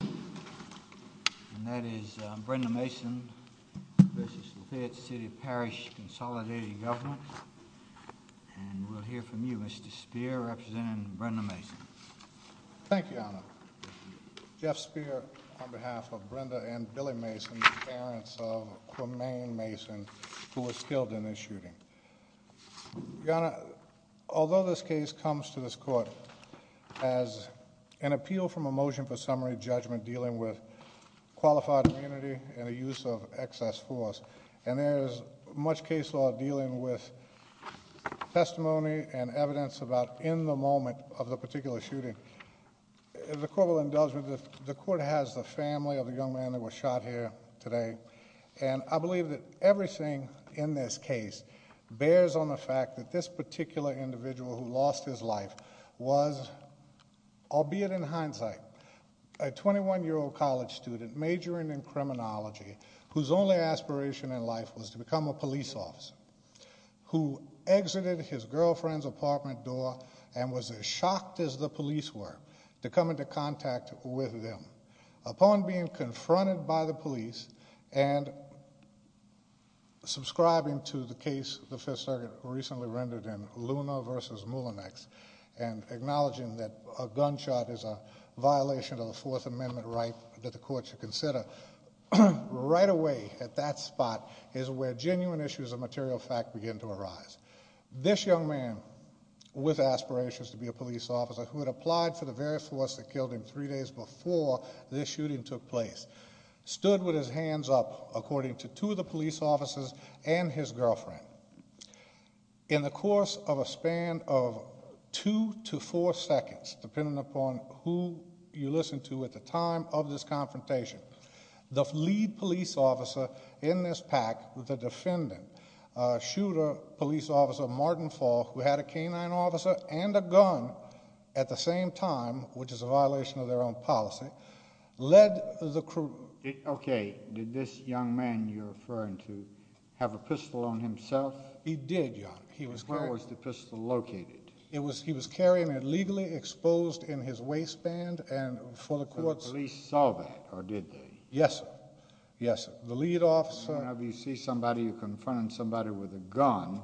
And that is Brenda Mason v. Lafayette City Parish Consolidated Government. And we'll hear from you, Mr. Spear, representing Brenda Mason. Thank you, Your Honor. Jeff Spear on behalf of Brenda and Billy Mason, the parents of Quemain Mason, who was killed in this shooting. Your Honor, although this case comes to this court as an appeal from a motion for summary judgment dealing with qualified immunity and the use of excess force, and there is much case law dealing with testimony and evidence about in the moment of the particular shooting, the court will indulge me that the court has the family of the young man that was shot here today. And I believe that everything in this case bears on the fact that this particular individual who lost his life was, albeit in hindsight, a 21-year-old college student majoring in criminology whose only aspiration in life was to become a police officer, who exited his girlfriend's apartment door and was as shocked as the police were to come into contact with them. Upon being confronted by the police and subscribing to the case the Fifth Circuit recently rendered in Luna v. Mullinex and acknowledging that a gunshot is a violation of the Fourth Amendment right that the court should consider, right away at that spot is where genuine issues of material fact begin to arise. This young man, with aspirations to be a police officer, who had applied for the very force that killed him three days before this shooting took place, stood with his hands up according to two of the police officers and his girlfriend. In the course of a span of two to four seconds, depending upon who you listen to at the time of this confrontation, the lead police officer in this pack, the defendant, shooter, police officer Martin Falk, who had a canine officer and a gun at the same time, which is a violation of their own policy, led the crew... Okay, did this young man you're referring to have a pistol on himself? He did, Your Honor. Where was the pistol located? He was carrying it legally exposed in his waistband and for the courts... And the police saw that, or did they? Yes, sir. Yes, sir. The lead officer... Whenever you see somebody, you're confronting somebody with a gun,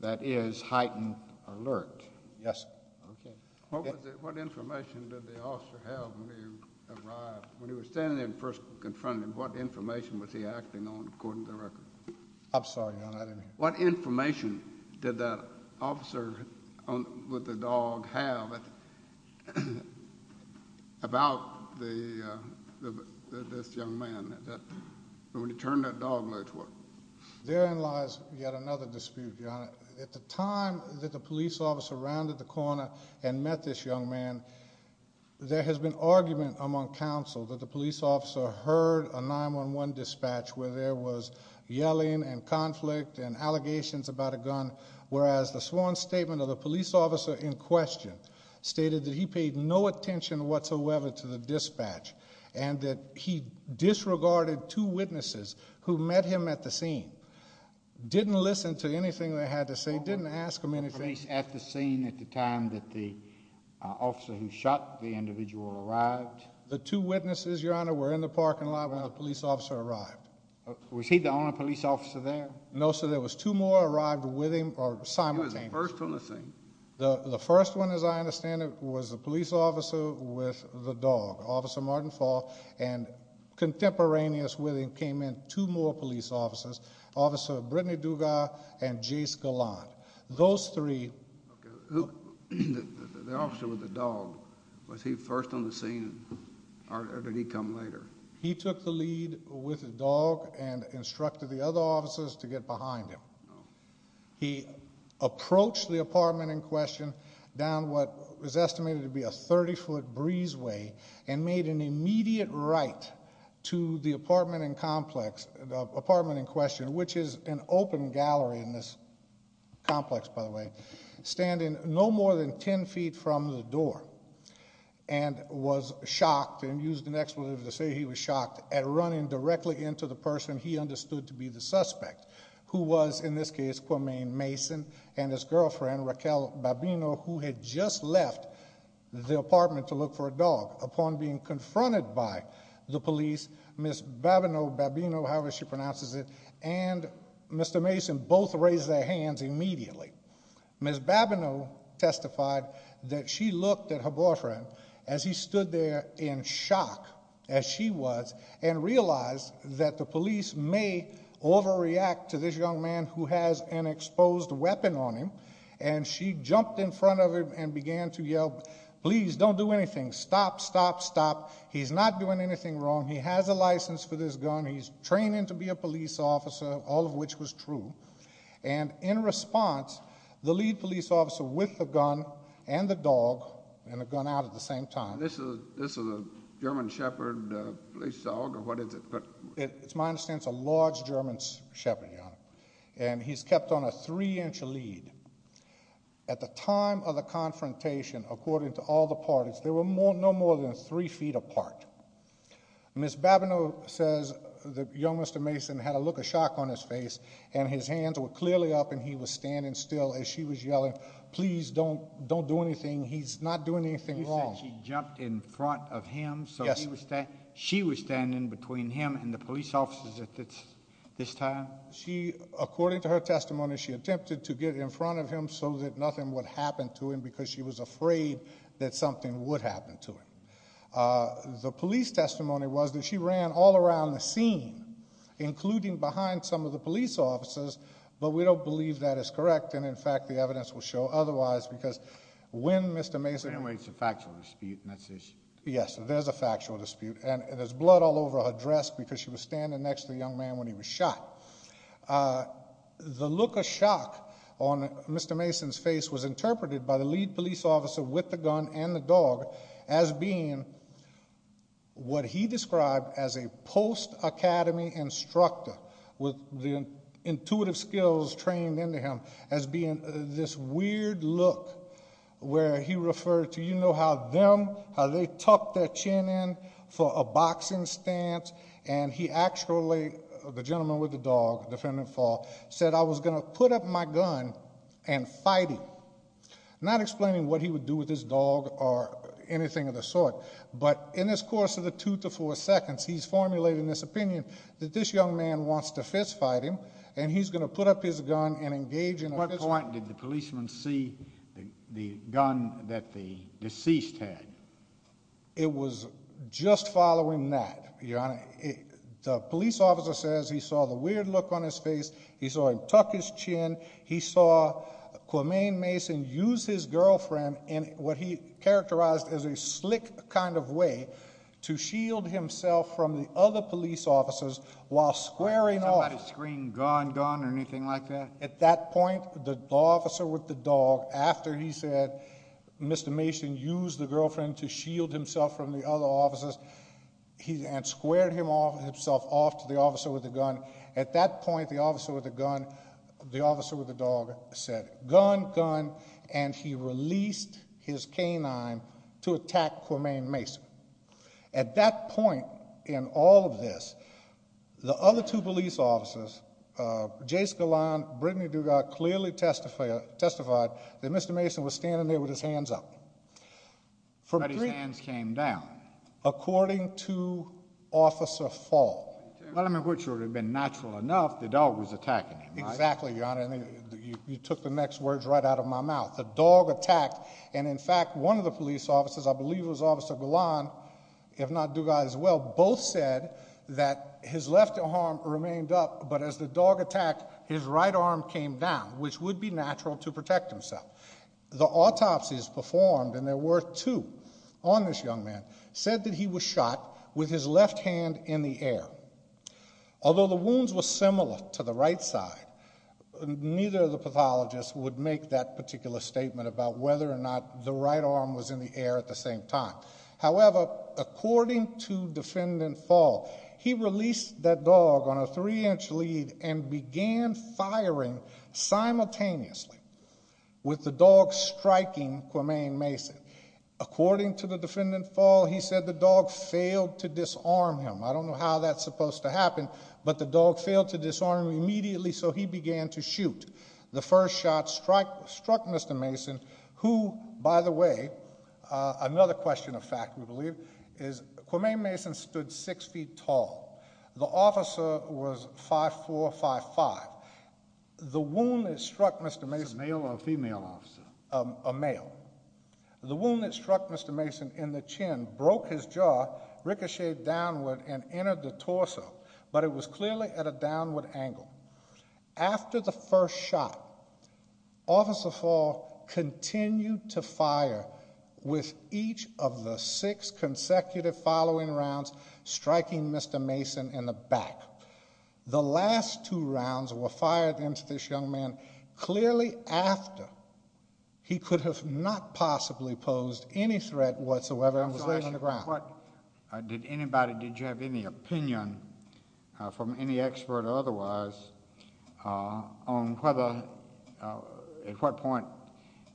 that is heightened alert. Yes, sir. Okay. What information did the officer have when he arrived, when he was standing there and first confronting him, what information was he acting on according to the record? I'm sorry, Your Honor, I didn't hear. What information did that officer with the dog have about this young man when he turned that dog leg toward him? Therein lies yet another dispute, Your Honor. At the time that the police officer rounded the corner and met this young man, there has been argument among counsel that the police officer heard a 911 dispatch where there was yelling and conflict and allegations about a gun, whereas the sworn statement of the police officer in question stated that he paid no attention whatsoever to the dispatch and that he disregarded two witnesses who met him at the scene, didn't listen to anything they had to say, didn't ask him anything. Police at the scene at the time that the officer who shot the individual arrived? The two witnesses, Your Honor, were in the parking lot when the police officer arrived. Was he the only police officer there? No, sir. There was two more arrived with him or simultaneously. He was the first on the scene. The first one, as I understand it, was the police officer with the dog, Officer Martin Fall, and contemporaneous with him came in two more police officers, Officer Brittany Dugas and Jace Gallant. Those three. The officer with the dog, was he first on the scene or did he come later? He took the lead with the dog and instructed the other officers to get behind him. He approached the apartment in question down what was estimated to be a 30-foot breezeway and made an immediate right to the apartment in question, which is an open gallery in this complex, by the way, standing no more than 10 feet from the door and was shocked and used an expletive to say he was shocked at running directly into the person he understood to be the suspect, who was, in this case, Kwame Mason and his girlfriend, Raquel Babino, who had just left the apartment to look for a dog. Upon being confronted by the police, Ms. Babino, however she pronounces it, and Mr. Mason both raised their hands immediately. Ms. Babino testified that she looked at her boyfriend as he stood there in shock, as she was, and realized that the police may overreact to this young man who has an exposed weapon on him, and she jumped in front of him and began to yell, please don't do anything, stop, stop, stop, he's not doing anything wrong, he has a license for this gun, he's training to be a police officer, all of which was true, and in response, the lead police officer with the gun and the dog and the gun out at the same time. This is a German Shepherd police dog, or what is it? It's a large German Shepherd, Your Honor, and he's kept on a three-inch lead. At the time of the confrontation, according to all the parties, they were no more than three feet apart. Ms. Babino says that young Mr. Mason had a look of shock on his face, and his hands were clearly up and he was standing still as she was yelling, please don't do anything, he's not doing anything wrong. You said she jumped in front of him, so she was standing between him and the police officers at this time? According to her testimony, she attempted to get in front of him so that nothing would happen to him because she was afraid that something would happen to him. The police testimony was that she ran all around the scene, including behind some of the police officers, but we don't believe that is correct, and in fact the evidence will show otherwise, because when Mr. Mason ran away, it's a factual dispute, and that's the issue. Yes, there's a factual dispute, and there's blood all over her dress because she was standing next to the young man when he was shot. The look of shock on Mr. Mason's face was interpreted by the lead police officer with the gun and the dog as being what he described as a post-academy instructor, with the intuitive skills trained into him as being this weird look where he referred to, you know how them, how they tuck their chin in for a boxing stance, and he actually, the gentleman with the dog, defendant at fault, said, I was going to put up my gun and fight him. Not explaining what he would do with his dog or anything of the sort, but in this course of the two to four seconds, he's formulating this opinion that this young man wants to fist fight him, and he's going to put up his gun and engage in a fist fight. At what point did the policeman see the gun that the deceased had? It was just following that, Your Honor. The police officer says he saw the weird look on his face, he saw him tuck his chin, he saw Quaman Mason use his girlfriend in what he characterized as a slick kind of way to shield himself from the other police officers while squaring off. Somebody scream, gun, gun, or anything like that? At that point, the officer with the dog, after he said, Mr. Mason used the girlfriend to shield himself from the other officers, and squared himself off to the officer with the gun, at that point, the officer with the dog said, gun, gun, and he released his canine to attack Quaman Mason. At that point, in all of this, the other two police officers, J. Scalon, Brittany Dugard, clearly testified that Mr. Mason was standing there with his hands up. But his hands came down. According to Officer Fall. Which would have been natural enough, the dog was attacking him, right? Exactly, Your Honor. You took the next words right out of my mouth. The dog attacked, and in fact, one of the police officers, I believe it was Officer Gulan, if not Dugard as well, both said that his left arm remained up, but as the dog attacked, his right arm came down, which would be natural to protect himself. The autopsies performed, and there were two on this young man, said that he was shot with his left hand in the air. Although the wounds were similar to the right side, neither of the pathologists would make that particular statement about whether or not the right arm was in the air at the same time. However, according to Defendant Fall, he released that dog on a three-inch lead and began firing simultaneously with the dog striking Quaman Mason. According to the Defendant Fall, he said the dog failed to disarm him. I don't know how that's supposed to happen, but the dog failed to disarm him immediately, so he began to shoot. The first shot struck Mr. Mason, who, by the way, another question of fact, we believe, is Quaman Mason stood six feet tall. The officer was 5'4", 5'5". The wound that struck Mr. Mason- Was it a male or a female officer? It was a male. The wound that struck Mr. Mason in the chin broke his jaw, ricocheted downward, and entered the torso, but it was clearly at a downward angle. After the first shot, Officer Fall continued to fire with each of the six consecutive following rounds, striking Mr. Mason in the back. The last two rounds were fired into this young man clearly after he could have not possibly posed any threat whatsoever and was laying on the ground. Did anybody, did you have any opinion from any expert or otherwise on whether, at what point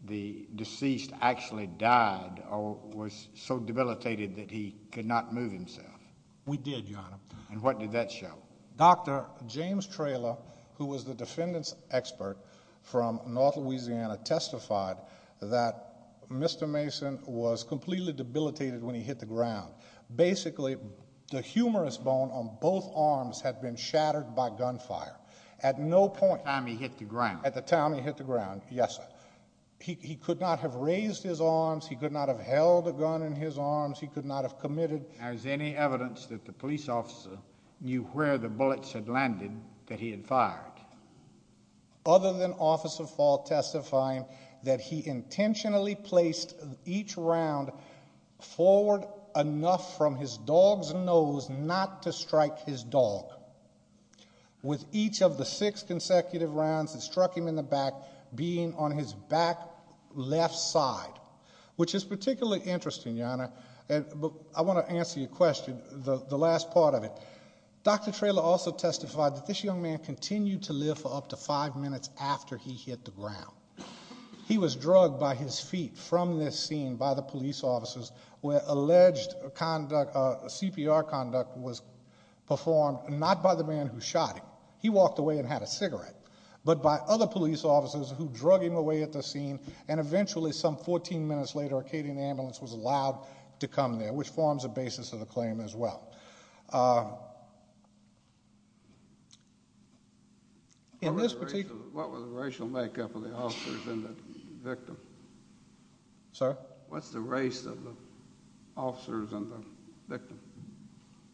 the deceased actually died or was so debilitated that he could not move himself? We did, Your Honor. And what did that show? Dr. James Traylor, who was the defendant's expert from North Louisiana, testified that Mr. Mason was completely debilitated when he hit the ground. Basically, the humerus bone on both arms had been shattered by gunfire. At no point- At the time he hit the ground. At the time he hit the ground, yes, sir. He could not have raised his arms. He could not have held a gun in his arms. He could not have committed- Was there any evidence that the police officer knew where the bullets had landed that he had fired? Other than Officer Fall testifying that he intentionally placed each round forward enough from his dog's nose not to strike his dog, with each of the six consecutive rounds that struck him in the back being on his back left side, I want to answer your question, the last part of it. Dr. Traylor also testified that this young man continued to live for up to five minutes after he hit the ground. He was drugged by his feet from this scene by the police officers, where alleged CPR conduct was performed not by the man who shot him, he walked away and had a cigarette, but by other police officers who drug him away at the scene, and eventually some 14 minutes later a Cadian ambulance was allowed to come there, which forms a basis of the claim as well. What was the racial makeup of the officers and the victim? Sir? What's the race of the officers and the victim?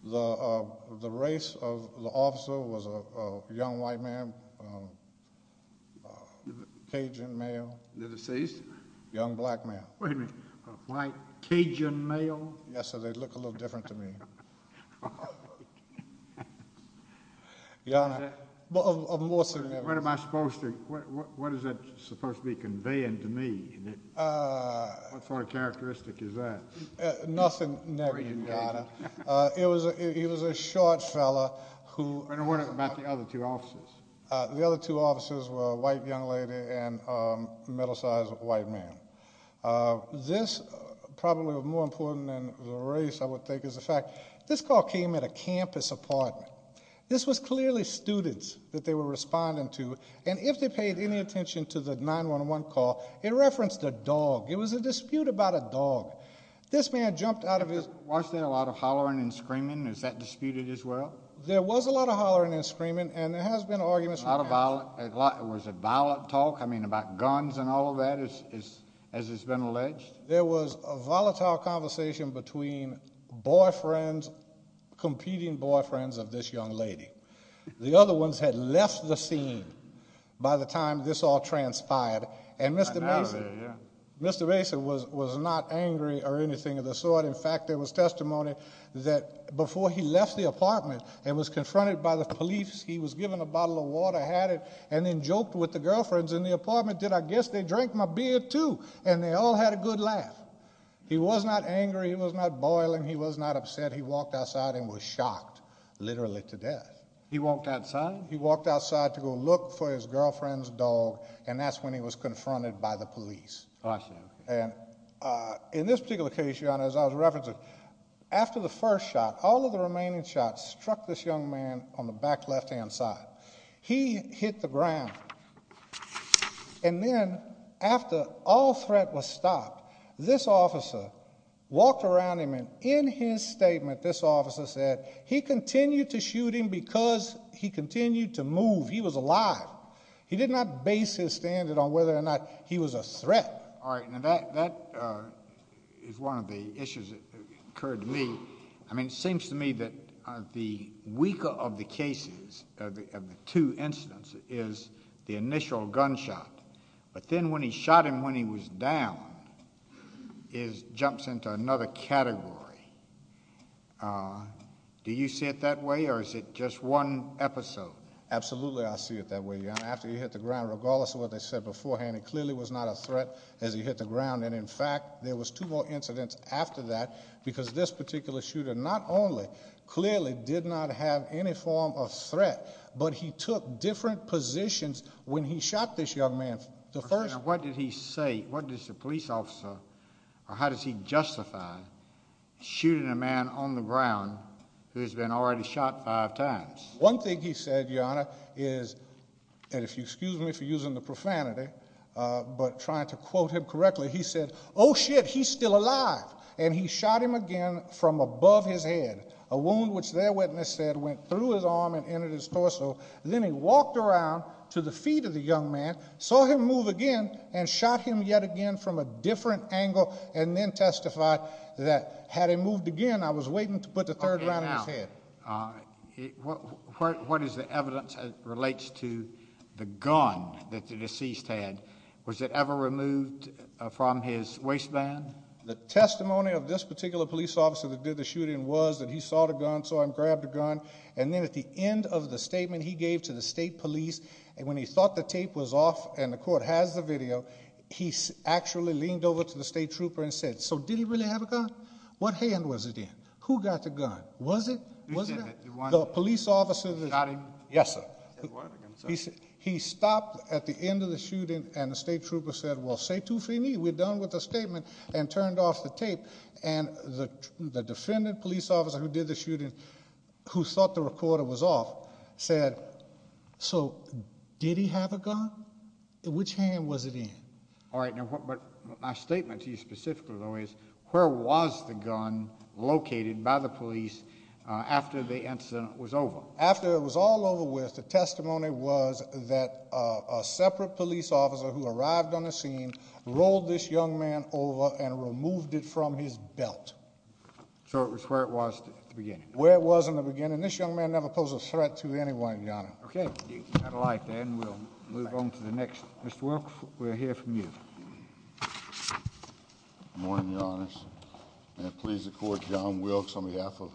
The race of the officer was a young white man, Cajun male. The deceased? Young black man. Wait a minute, a white Cajun male? Yes, so they looked a little different to me. What am I supposed to, what is that supposed to be conveying to me? What sort of characteristic is that? Nothing, never you got it. He was a short fellow. And what about the other two officers? The other two officers were a white young lady and a middle-sized white man. This, probably more important than the race, I would think, is the fact, this call came at a campus apartment. This was clearly students that they were responding to, and if they paid any attention to the 911 call, it referenced a dog. It was a dispute about a dog. This man jumped out of his. Wasn't there a lot of hollering and screaming? Is that disputed as well? There was a lot of hollering and screaming, and there has been arguments. Was there a lot of violent talk, I mean about guns and all of that, as has been alleged? There was a volatile conversation between boyfriends, competing boyfriends of this young lady. The other ones had left the scene by the time this all transpired, and Mr. Mason was not angry or anything of the sort. In fact, there was testimony that before he left the apartment and was confronted by the police, he was given a bottle of water, had it, and then joked with the girlfriends in the apartment that, I guess they drank my beer too, and they all had a good laugh. He was not angry. He was not boiling. He was not upset. He walked outside and was shocked literally to death. He walked outside? He walked outside to go look for his girlfriend's dog, and that's when he was confronted by the police. In this particular case, Your Honor, as I was referencing, after the first shot, all of the remaining shots struck this young man on the back left-hand side. He hit the ground, and then after all threat was stopped, this officer walked around him, and in his statement, this officer said he continued to shoot him because he continued to move. He was alive. He did not base his standard on whether or not he was a threat. All right. Now, that is one of the issues that occurred to me. I mean, it seems to me that the weaker of the cases, of the two incidents, is the initial gunshot. But then when he shot him when he was down, it jumps into another category. Do you see it that way, or is it just one episode? Absolutely I see it that way, Your Honor. After he hit the ground, regardless of what they said beforehand, it clearly was not a threat as he hit the ground. And, in fact, there was two more incidents after that because this particular shooter not only clearly did not have any form of threat, but he took different positions when he shot this young man. What did he say? What does the police officer, or how does he justify shooting a man on the ground who has been already shot five times? One thing he said, Your Honor, is, and if you'll excuse me for using the profanity, but trying to quote him correctly, he said, Oh, shit, he's still alive. And he shot him again from above his head, a wound which their witness said went through his arm and entered his torso. Then he walked around to the feet of the young man, saw him move again, and shot him yet again from a different angle, and then testified that had he moved again, I was waiting to put the third round in his head. What is the evidence that relates to the gun that the deceased had? Was it ever removed from his waistband? The testimony of this particular police officer that did the shooting was that he saw the gun, saw him grab the gun, and then at the end of the statement he gave to the state police, when he thought the tape was off and the court has the video, he actually leaned over to the state trooper and said, So did he really have a gun? What hand was it in? Who got the gun? Was it that? The police officer that shot him? Yes, sir. He stopped at the end of the shooting, and the state trooper said, Well, c'est tout fini. We're done with the statement and turned off the tape. And the defendant police officer who did the shooting, who thought the recorder was off, said, So did he have a gun? Which hand was it in? All right. But my statement to you specifically, though, is where was the gun located by the police after the incident was over? After it was all over with, the testimony was that a separate police officer who arrived on the scene rolled this young man over and removed it from his belt. So it was where it was at the beginning? Where it was in the beginning. This young man never posed a threat to anyone, Your Honor. Okay. We'll move on to the next. Mr. Wilkes, we'll hear from you. Good morning, Your Honors. And I please the Court, John Wilkes on behalf of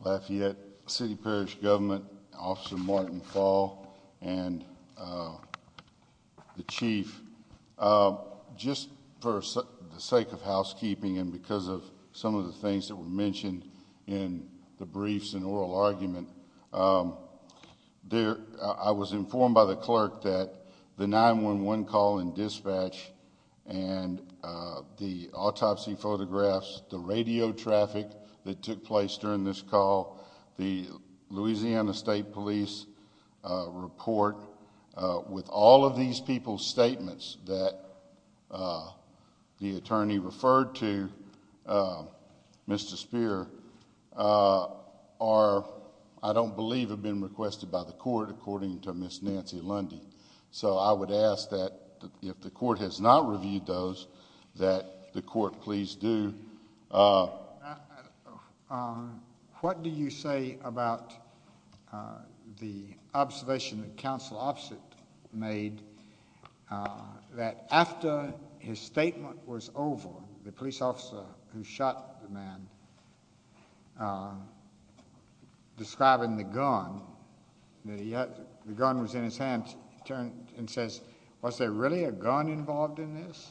Lafayette City Parish Government, Officer Martin Fall, and the Chief. Just for the sake of housekeeping and because of some of the things that were mentioned in the briefs and oral argument, I was informed by the clerk that the 911 call and dispatch and the autopsy photographs, the radio traffic that took place during this call, the Louisiana State Police report, with all of these people's statements that the attorney referred to, Mr. Speier, are, I don't believe, have been requested by the Court, according to Ms. Nancy Lundy. So I would ask that if the Court has not reviewed those, that the Court please do. What do you say about the observation that Counsel Offset made that after his statement was over, the police officer who shot the man, describing the gun, that the gun was in his hand, turned and says, Was there really a gun involved in this?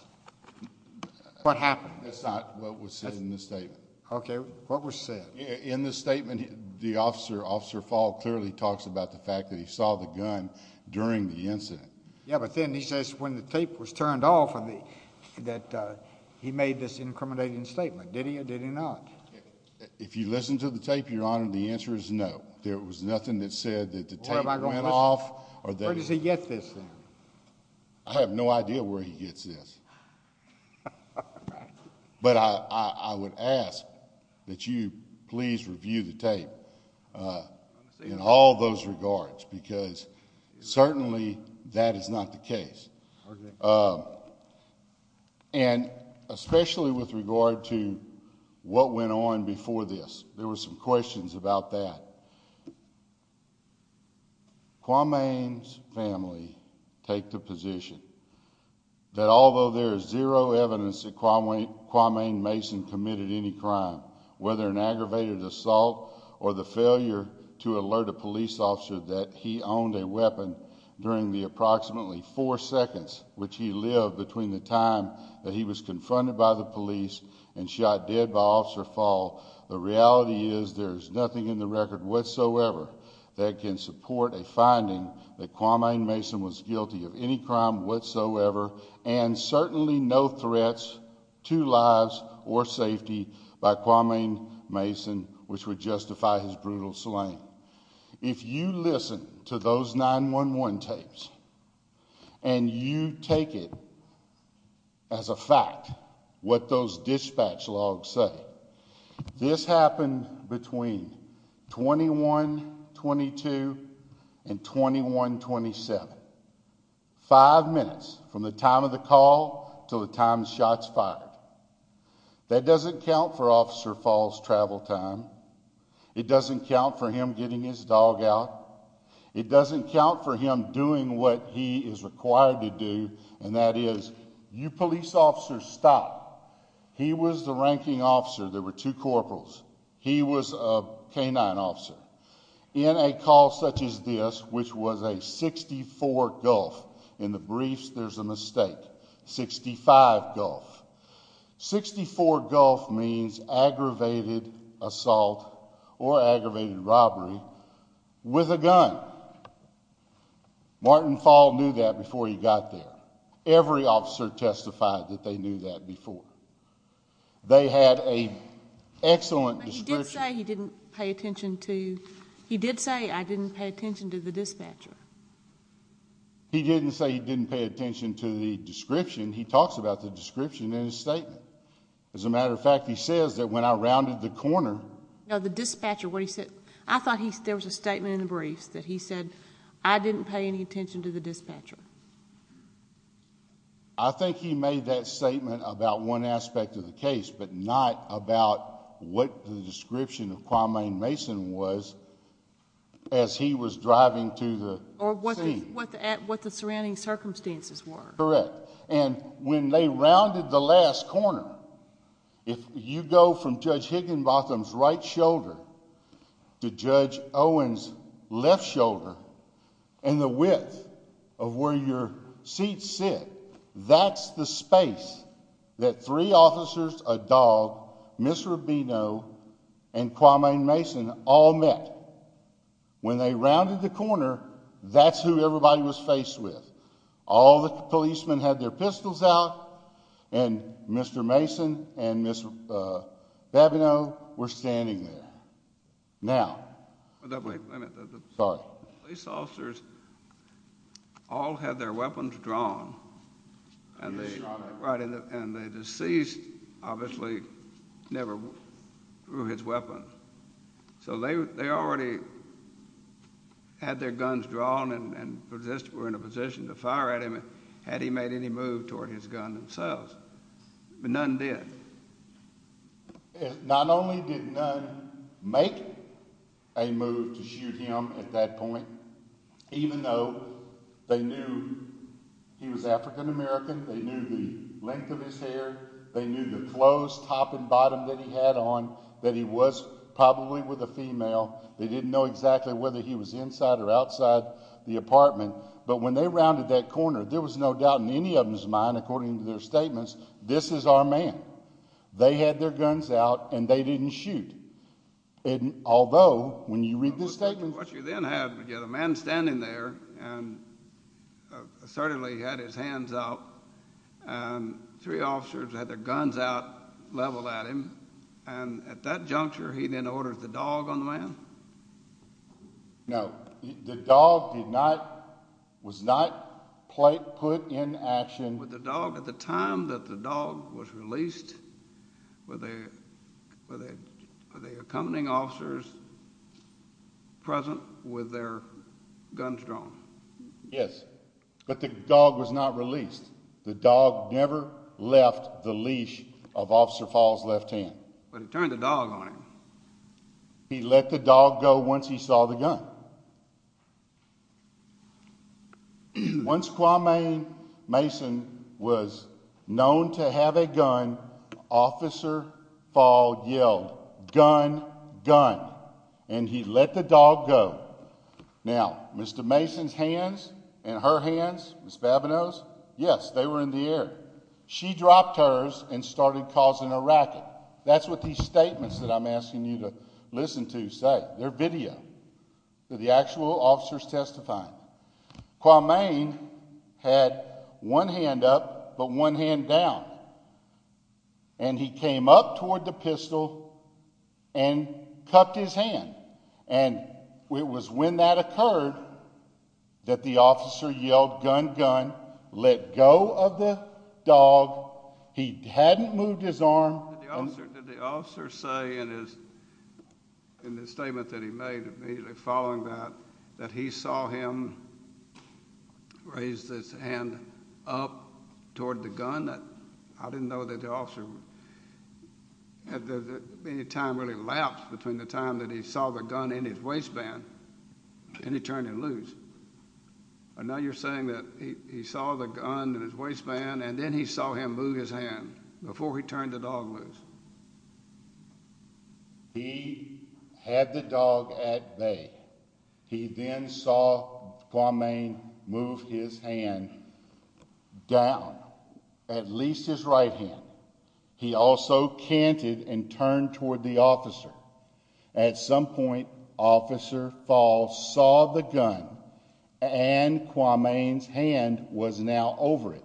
What happened? That's not what was said in the statement. Okay. What was said? In the statement, the officer, Officer Fall, clearly talks about the fact that he saw the gun during the incident. Yeah, but then he says when the tape was turned off that he made this incriminating statement. Did he or did he not? If you listen to the tape, Your Honor, the answer is no. There was nothing that said that the tape went off. Where does he get this then? I have no idea where he gets this. But I would ask that you please review the tape in all those regards, because certainly that is not the case. Okay. And especially with regard to what went on before this, there were some questions about that. Kwame's family take the position that although there is zero evidence that Kwame Mason committed any crime, whether an aggravated assault or the failure to alert a police officer that he owned a weapon during the approximately four seconds which he lived between the time that he was confronted by the police and shot dead by Officer Fall, the reality is there is nothing in the record whatsoever that can support a finding that Kwame Mason was guilty of any crime whatsoever and certainly no threats to lives or safety by Kwame Mason which would justify his brutal slaying. If you listen to those 911 tapes and you take it as a fact what those dispatch logs say, this happened between 21-22 and 21-27. Five minutes from the time of the call to the time the shot's fired. That doesn't count for Officer Fall's travel time. It doesn't count for him getting his dog out. It doesn't count for him doing what he is required to do and that is you police officers stop. He was the ranking officer. There were two corporals. He was a canine officer. In a call such as this which was a 64 gulf, in the briefs there's a mistake, 65 gulf. 64 gulf means aggravated assault or aggravated robbery with a gun. Martin Fall knew that before he got there. Every officer testified that they knew that before. They had an excellent description. But he did say he didn't pay attention to the dispatcher. He didn't say he didn't pay attention to the description. He talks about the description in his statement. As a matter of fact, he says that when I rounded the corner. I thought there was a statement in the briefs that he said, I didn't pay any attention to the dispatcher. I think he made that statement about one aspect of the case, but not about what the description of Kwame Mason was as he was driving to the scene. Or what the surrounding circumstances were. Correct. And when they rounded the last corner, if you go from Judge Higginbotham's right shoulder to Judge Owen's left shoulder, and the width of where your seats sit, that's the space that three officers, a dog, Ms. Rubino, and Kwame Mason all met. When they rounded the corner, that's who everybody was faced with. All the policemen had their pistols out, and Mr. Mason and Ms. Rubino were standing there. Now, police officers all had their weapons drawn, and the deceased obviously never threw his weapon. So they already had their guns drawn and were in a position to fire at him had he made any move toward his gun themselves. But none did. Not only did none make a move to shoot him at that point, even though they knew he was African American, they knew the length of his hair, they knew the clothes, top and bottom, that he had on, that he was probably with a female. They didn't know exactly whether he was inside or outside the apartment. But when they rounded that corner, there was no doubt in any of them's mind, according to their statements, this is our man. They had their guns out, and they didn't shoot. Although, when you read this statement— What you then have is a man standing there, and assertively he had his hands out, and three officers had their guns out, leveled at him, and at that juncture he then ordered the dog on the man? No, the dog was not put in action. But the dog, at the time that the dog was released, were the accompanying officers present with their guns drawn? Yes, but the dog was not released. The dog never left the leash of Officer Fall's left hand. But he turned the dog on him. He let the dog go once he saw the gun. Once Kwame Mason was known to have a gun, Officer Fall yelled, Gun! Gun! And he let the dog go. Now, Mr. Mason's hands and her hands, Ms. Babineaux's? Yes, they were in the air. She dropped hers and started causing a racket. That's what these statements that I'm asking you to listen to say. They're video. The actual officers testifying. Kwame had one hand up, but one hand down. And he came up toward the pistol and cupped his hand. And it was when that occurred that the officer yelled, Gun! Gun! Let go of the dog. He hadn't moved his arm. Did the officer say in the statement that he made, immediately following that, that he saw him raise his hand up toward the gun? I didn't know that the officer, any time really lapsed between the time that he saw the gun in his waistband and he turned it loose. But now you're saying that he saw the gun in his waistband and then he saw him move his hand before he turned the dog loose. He had the dog at bay. He then saw Kwame move his hand down, at least his right hand. He also canted and turned toward the officer. At some point, Officer Falls saw the gun, and Kwame's hand was now over it.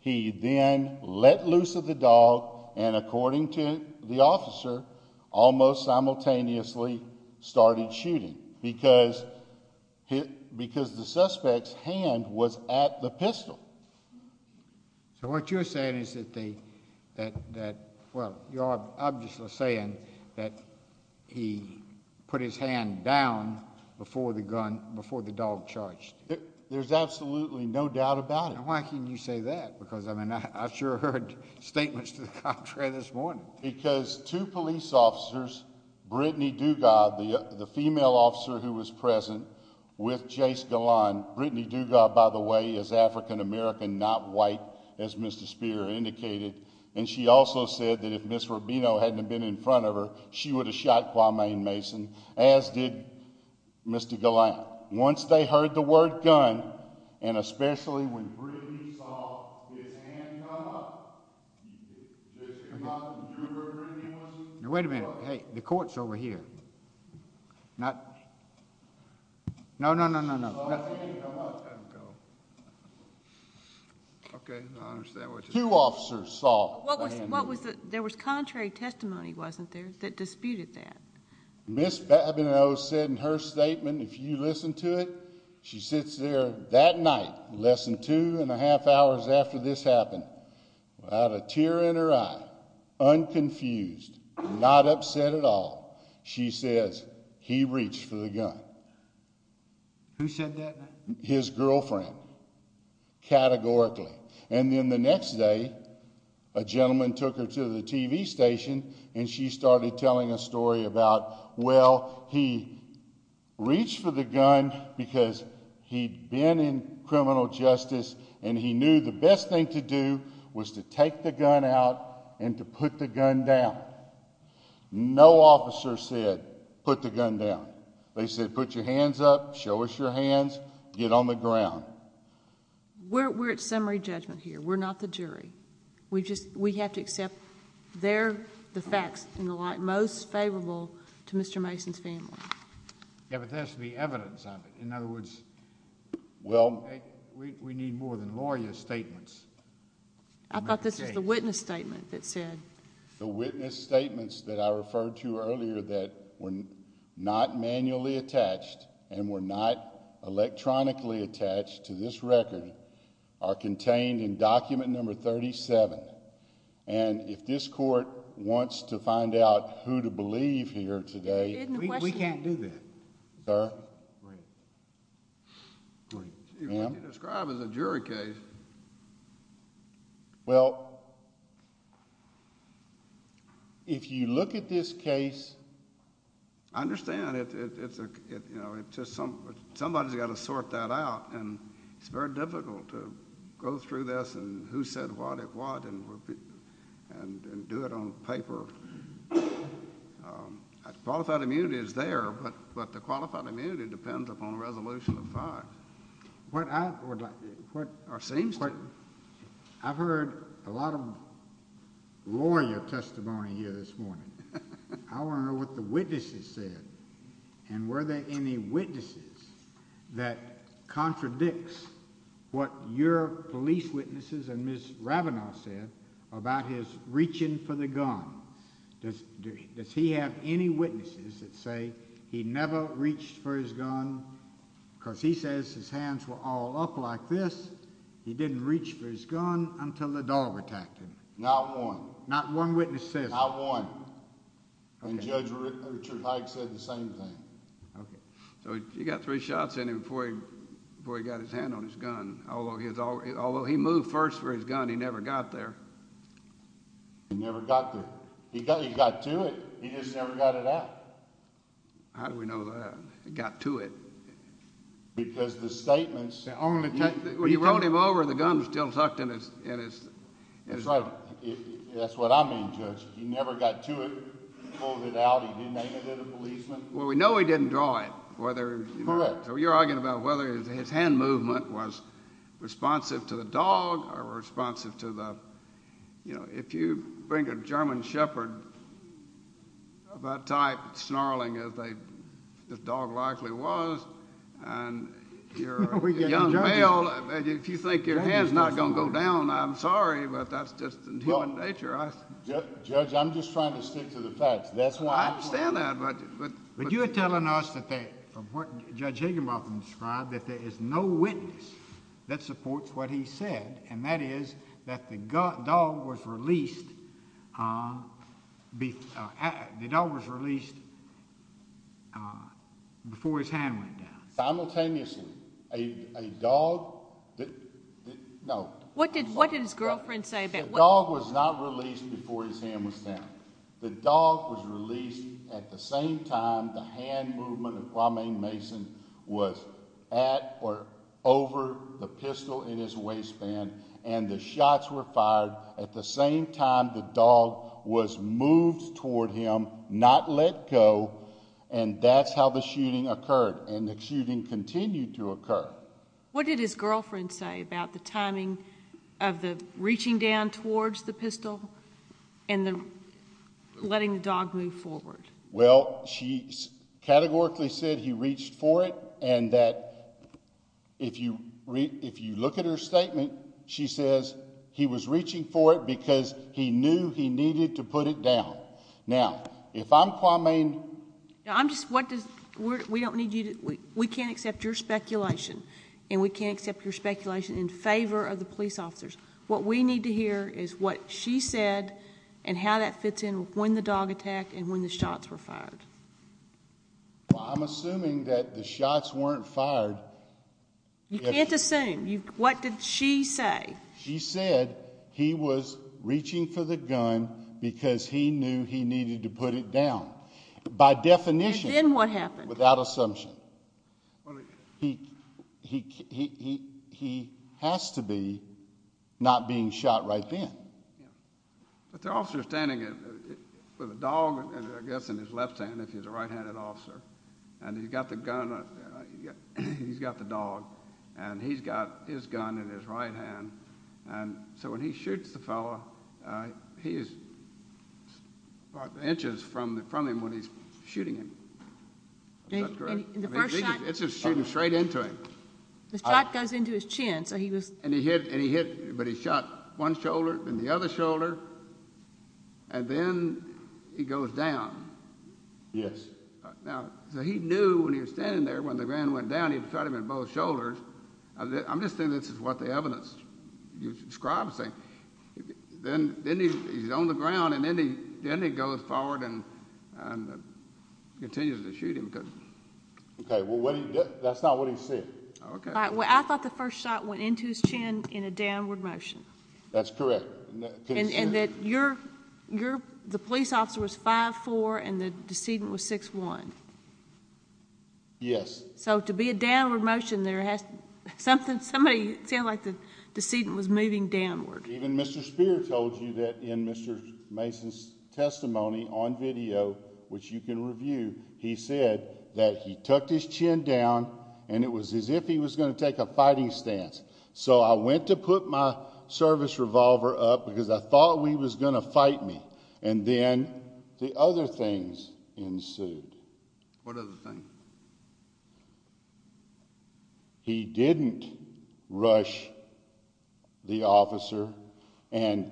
He then let loose of the dog and, according to the officer, almost simultaneously started shooting because the suspect's hand was at the pistol. So what you're saying is that they, well, you're obviously saying that he put his hand down before the dog charged. There's absolutely no doubt about it. Why can you say that? Because, I mean, I sure heard statements to the contrary this morning. Because two police officers, Brittany Dugod, the female officer who was present, with Jace Galland. Brittany Dugod, by the way, is African-American, not white, as Mr. Spear indicated. And she also said that if Ms. Rubino hadn't have been in front of her, she would have shot Kwame Mason, as did Mr. Galland. Once they heard the word gun, and especially when Brittany saw his hand come up, Jace Galland, would you have heard Brittany Mason? Now, wait a minute. Hey, the court's over here. Not, no, no, no, no, no. Okay, I understand what you're saying. Two officers saw a hand. What was the, there was contrary testimony, wasn't there, that disputed that? Ms. Babineaux said in her statement, if you listen to it, she sits there that night, less than two and a half hours after this happened. Without a tear in her eye, unconfused, not upset at all, she says, he reached for the gun. Who said that? His girlfriend, categorically. And then the next day, a gentleman took her to the TV station, and she started telling a story about, well, he reached for the gun because he'd been in criminal justice, and he knew the best thing to do was to take the gun out and to put the gun down. No officer said, put the gun down. They said, put your hands up, show us your hands, get on the ground. We're at summary judgment here. We're not the jury. We just, we have to accept they're the facts in the light most favorable to Mr. Mason's family. Yeah, but there has to be evidence of it. In other words, we need more than lawyer statements. I thought this was the witness statement that said. The witness statements that I referred to earlier that were not manually attached and were not electronically attached to this record are contained in document number 37. And if this court wants to find out who to believe here today... We can't do that. Sir? You described it as a jury case. Well, if you look at this case... I understand. Somebody's got to sort that out, and it's very difficult to go through this and who said what at what and do it on paper. Qualified immunity is there, but the qualified immunity depends upon the resolution of facts. What I would like... It seems... I've heard a lot of lawyer testimony here this morning. I want to know what the witnesses said. And were there any witnesses that contradicts what your police witnesses and Ms. Ravenoff said about his reaching for the gun? Does he have any witnesses that say he never reached for his gun? Because he says his hands were all up like this. He didn't reach for his gun until the dog attacked him. Not one. Not one witness says that. Not one. And Judge Richard Hyde said the same thing. Okay. So he got three shots in him before he got his hand on his gun. Although he moved first for his gun, he never got there. He never got there. He got to it. He just never got it out. How do we know that? He got to it. Because the statements... When you rolled him over, the gun was still tucked in his... That's right. That's what I mean, Judge. He never got to it. He pulled it out. He didn't aim it at a policeman. Well, we know he didn't draw it, whether... Correct. So you're arguing about whether his hand movement was responsive to the dog or responsive to the... You know, if you bring a German shepherd of that type, snarling as the dog likely was, and you're a young male... If you think your hand's not going to go down, I'm sorry, but that's just in human nature. Judge, I'm just trying to stick to the facts. That's why... I understand that, but... But you're telling us that, from what Judge Higginbotham described, that there is no witness that supports what he said, and that is that the dog was released before his hand went down. Simultaneously, a dog... No. What did his girlfriend say about... The dog was not released before his hand was down. The dog was released at the same time the hand movement of Kwame Mason was at or over the pistol in his waistband, and the shots were fired at the same time the dog was moved toward him, not let go, and that's how the shooting occurred, and the shooting continued to occur. What did his girlfriend say about the timing of the reaching down towards the pistol and letting the dog move forward? Well, she categorically said he reached for it, and that if you look at her statement, she says he was reaching for it because he knew he needed to put it down. Now, if I'm Kwame... Now, I'm just... What does... We don't need you to... We can't accept your speculation, and we can't accept your speculation in favor of the police officers. What we need to hear is what she said and how that fits in with when the dog attacked and when the shots were fired. Well, I'm assuming that the shots weren't fired... You can't assume. What did she say? She said he was reaching for the gun because he knew he needed to put it down. By definition... And then what happened? Without assumption. He has to be not being shot right then. But the officer is standing with a dog, I guess, in his left hand, if he's a right-handed officer, and he's got the gun... he's got the dog, and he's got his gun in his right hand, and so when he shoots the fellow, he is inches from him when he's shooting him. Is that correct? In the first shot... It's just shooting straight into him. The shot goes into his chin, so he was... And he hit, but he shot one shoulder, then the other shoulder, and then he goes down. Yes. Now, so he knew when he was standing there, when the gun went down, he'd shot him in both shoulders. I'm just saying this is what the evidence describes. Then he's on the ground, and then he goes forward and continues to shoot him. Okay, well, that's not what he said. I thought the first shot went into his chin in a downward motion. That's correct. And that the police officer was 5'4", and the decedent was 6'1". Yes. So to be a downward motion, somebody sounded like the decedent was moving downward. Even Mr. Spear told you that in Mr. Mason's testimony on video, which you can review, he said that he tucked his chin down, and it was as if he was going to take a fighting stance. So I went to put my service revolver up because I thought he was going to fight me, and then the other things ensued. What other things? He didn't rush the officer, and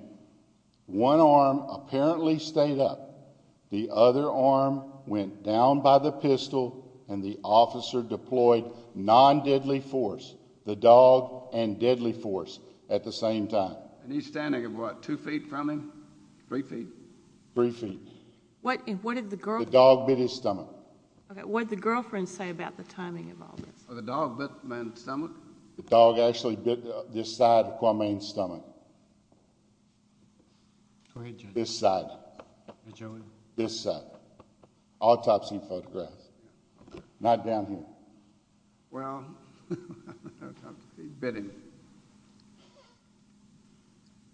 one arm apparently stayed up. The other arm went down by the pistol, and the officer deployed non-deadly force, the dog and deadly force at the same time. And he's standing at what, two feet from him? Three feet? Three feet. What did the girl do? The dog bit his stomach. What did the girlfriend say about the timing of all this? The dog bit my stomach? The dog actually bit this side of Kwame's stomach. This side. This side. Autopsy photograph. Not down here. Well, he bit him.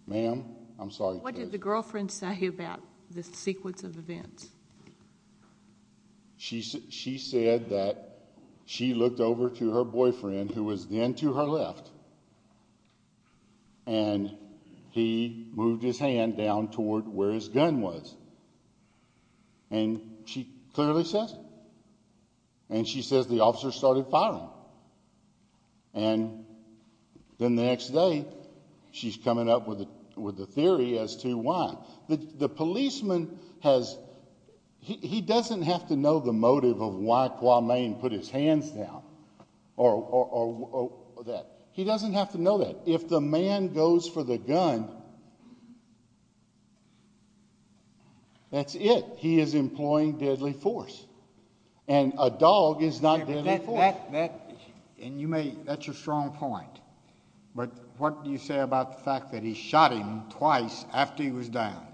Ma'am, I'm sorry. What did the girlfriend say about the sequence of events? She said that she looked over to her boyfriend, who was then to her left, and he moved his hand down toward where his gun was. And she clearly says it. And she says the officer started firing. And then the next day, she's coming up with a theory as to why. The policeman has, he doesn't have to know the motive of why Kwame put his hands down or that. He doesn't have to know that. If the man goes for the gun, that's it. He is employing deadly force. And a dog is not deadly force. And you may, that's a strong point. But what do you say about the fact that he shot him twice after he was down?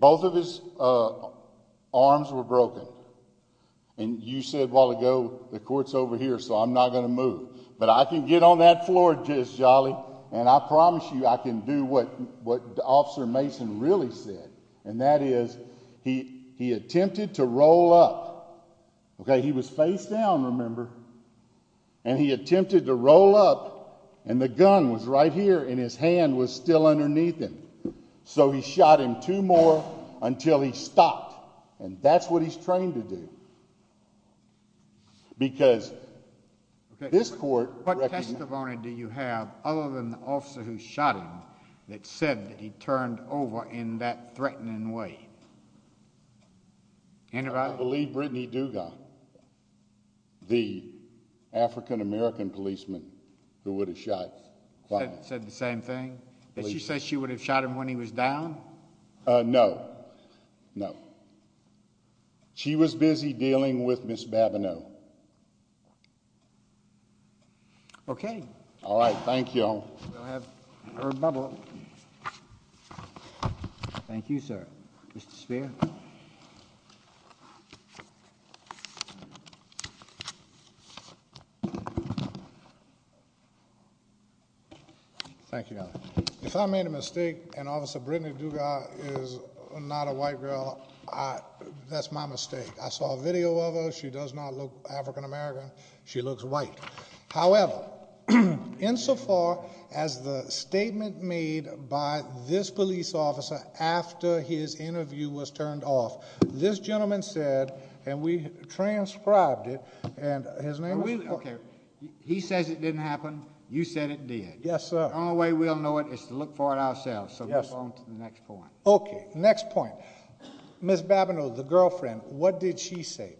Both of his arms were broken. And you said a while ago, the court's over here, so I'm not going to move. But I can get on that floor just jolly, and I promise you I can do what Officer Mason really said, and that is he attempted to roll up. Okay? He was face down, remember? And he attempted to roll up, and the gun was right here, and his hand was still underneath him. So he shot him two more until he stopped. And that's what he's trained to do. Because this court recognizes. What testimony do you have other than the officer who shot him that said that he turned over in that threatening way? Anybody? I believe Brittany Dugas, the African-American policeman who would have shot Kwame. Said the same thing? Did she say she would have shot him when he was down? No. No. She was busy dealing with Ms. Babineau. Okay. All right. Thank you. We'll have her bubble. Thank you, sir. Mr. Speier. Thank you, Your Honor. If I made a mistake and Officer Brittany Dugas is not a white girl, that's my mistake. I saw a video of her. She does not look African-American. She looks white. However, insofar as the statement made by this police officer after his interview was turned off, this gentleman said, and we transcribed it, and his name was? Okay. He says it didn't happen. You said it did. Yes, sir. The only way we'll know it is to look for it ourselves. So move on to the next point. Okay. Next point. Ms. Babineau, the girlfriend, what did she say?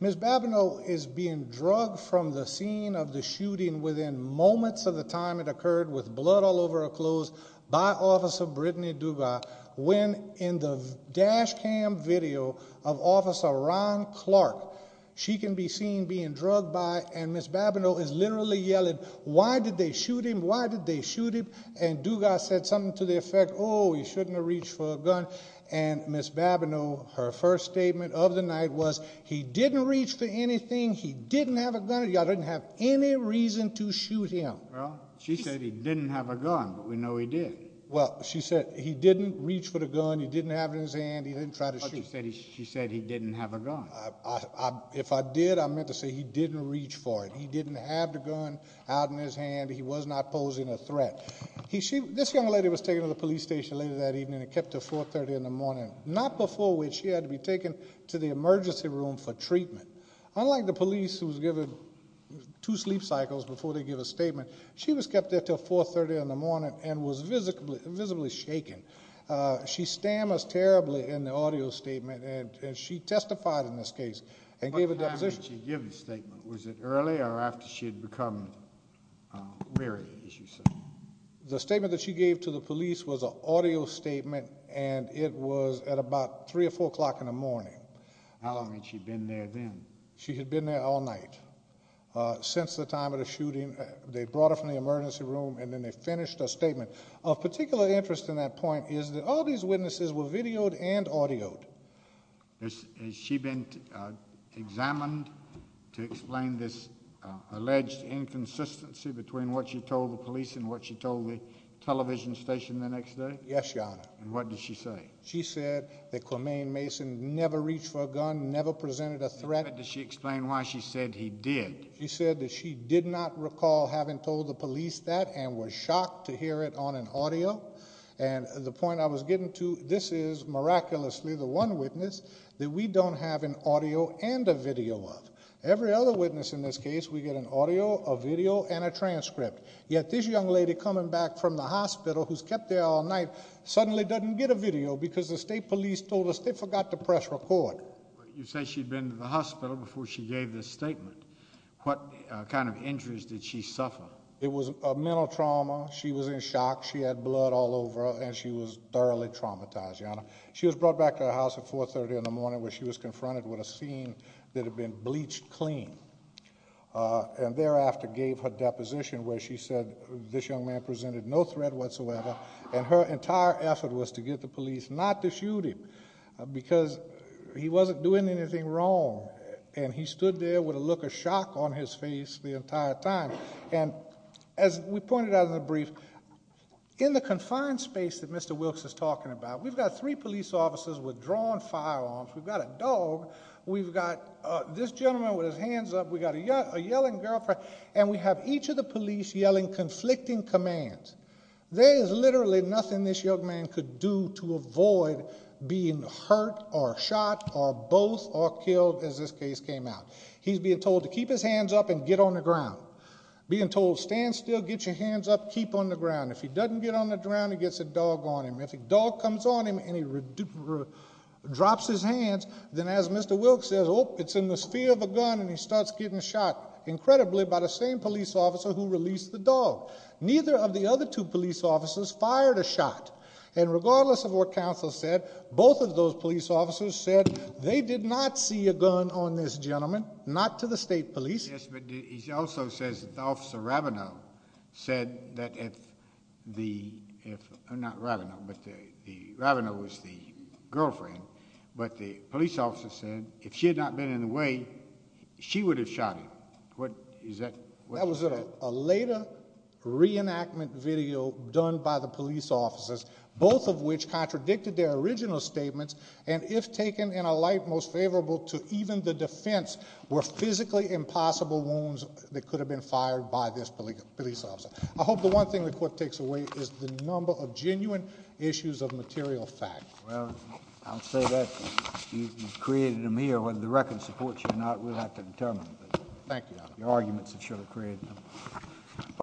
Ms. Babineau is being drugged from the scene of the shooting within moments of the time it occurred with blood all over her clothes by Officer Brittany Dugas when in the dash cam video of Officer Ron Clark, she can be seen being drugged by, and Ms. Babineau is literally yelling, why did they shoot him? Why did they shoot him? And Dugas said something to the effect, oh, he shouldn't have reached for a gun, and Ms. Babineau, her first statement of the night was he didn't reach for anything. He didn't have a gun. Y'all didn't have any reason to shoot him. Well, she said he didn't have a gun, but we know he did. Well, she said he didn't reach for the gun. He didn't have it in his hand. He didn't try to shoot. She said he didn't have a gun. If I did, I meant to say he didn't reach for it. He didn't have the gun out in his hand. She said he was not posing a threat. This young lady was taken to the police station later that evening and kept there until 430 in the morning, not before which she had to be taken to the emergency room for treatment. Unlike the police who was given two sleep cycles before they give a statement, she was kept there until 430 in the morning and was visibly shaken. She stammers terribly in the audio statement, and she testified in this case and gave a deposition. When did she give the statement? Was it early or after she had become married, as you say? The statement that she gave to the police was an audio statement, and it was at about 3 or 4 o'clock in the morning. How long had she been there then? She had been there all night since the time of the shooting. They brought her from the emergency room, and then they finished her statement. Of particular interest in that point is that all these witnesses were videoed and audioed. Has she been examined to explain this alleged inconsistency between what she told the police and what she told the television station the next day? Yes, Your Honor. What did she say? She said that Quamaine Mason never reached for a gun, never presented a threat. Does she explain why she said he did? She said that she did not recall having told the police that and was shocked to hear it on an audio. And the point I was getting to, this is miraculously the one witness that we don't have an audio and a video of. Every other witness in this case, we get an audio, a video, and a transcript. Yet this young lady coming back from the hospital who's kept there all night suddenly doesn't get a video because the state police told us they forgot to press record. You say she'd been to the hospital before she gave this statement. What kind of injuries did she suffer? It was a mental trauma. She was in shock. She had blood all over her and she was thoroughly traumatized, Your Honor. She was brought back to her house at 430 in the morning where she was confronted with a scene that had been bleached clean. And thereafter gave her deposition where she said this young man presented no threat whatsoever. And her entire effort was to get the police not to shoot him because he wasn't doing anything wrong. And he stood there with a look of shock on his face the entire time. And as we pointed out in the brief, in the confined space that Mr. Wilkes is talking about, we've got three police officers with drawn firearms. We've got a dog. We've got this gentleman with his hands up. We've got a yelling girlfriend. And we have each of the police yelling conflicting commands. There is literally nothing this young man could do to avoid being hurt or shot or both or killed as this case came out. He's being told to keep his hands up and get on the ground. Being told stand still, get your hands up, keep on the ground. If he doesn't get on the ground, he gets a dog on him. If a dog comes on him and he drops his hands, then as Mr. Wilkes says, oh, it's in the sphere of a gun and he starts getting shot. Incredibly by the same police officer who released the dog. Neither of the other two police officers fired a shot. And regardless of what counsel said, both of those police officers said they did not see a gun on this gentleman. Not to the state police. Yes, but he also says that Officer Rabineau said that if the, not Rabineau, but the, Rabineau was the girlfriend. But the police officer said if she had not been in the way, she would have shot him. That was a later reenactment video done by the police officers. Both of which contradicted their original statements and if taken in a light most favorable to even the defense, were physically impossible wounds that could have been fired by this police officer. I hope the one thing the court takes away is the number of genuine issues of material fact. Well, I'll say that you created them here. Whether the record supports you or not, we'll have to determine. Thank you. The arguments that should have created them.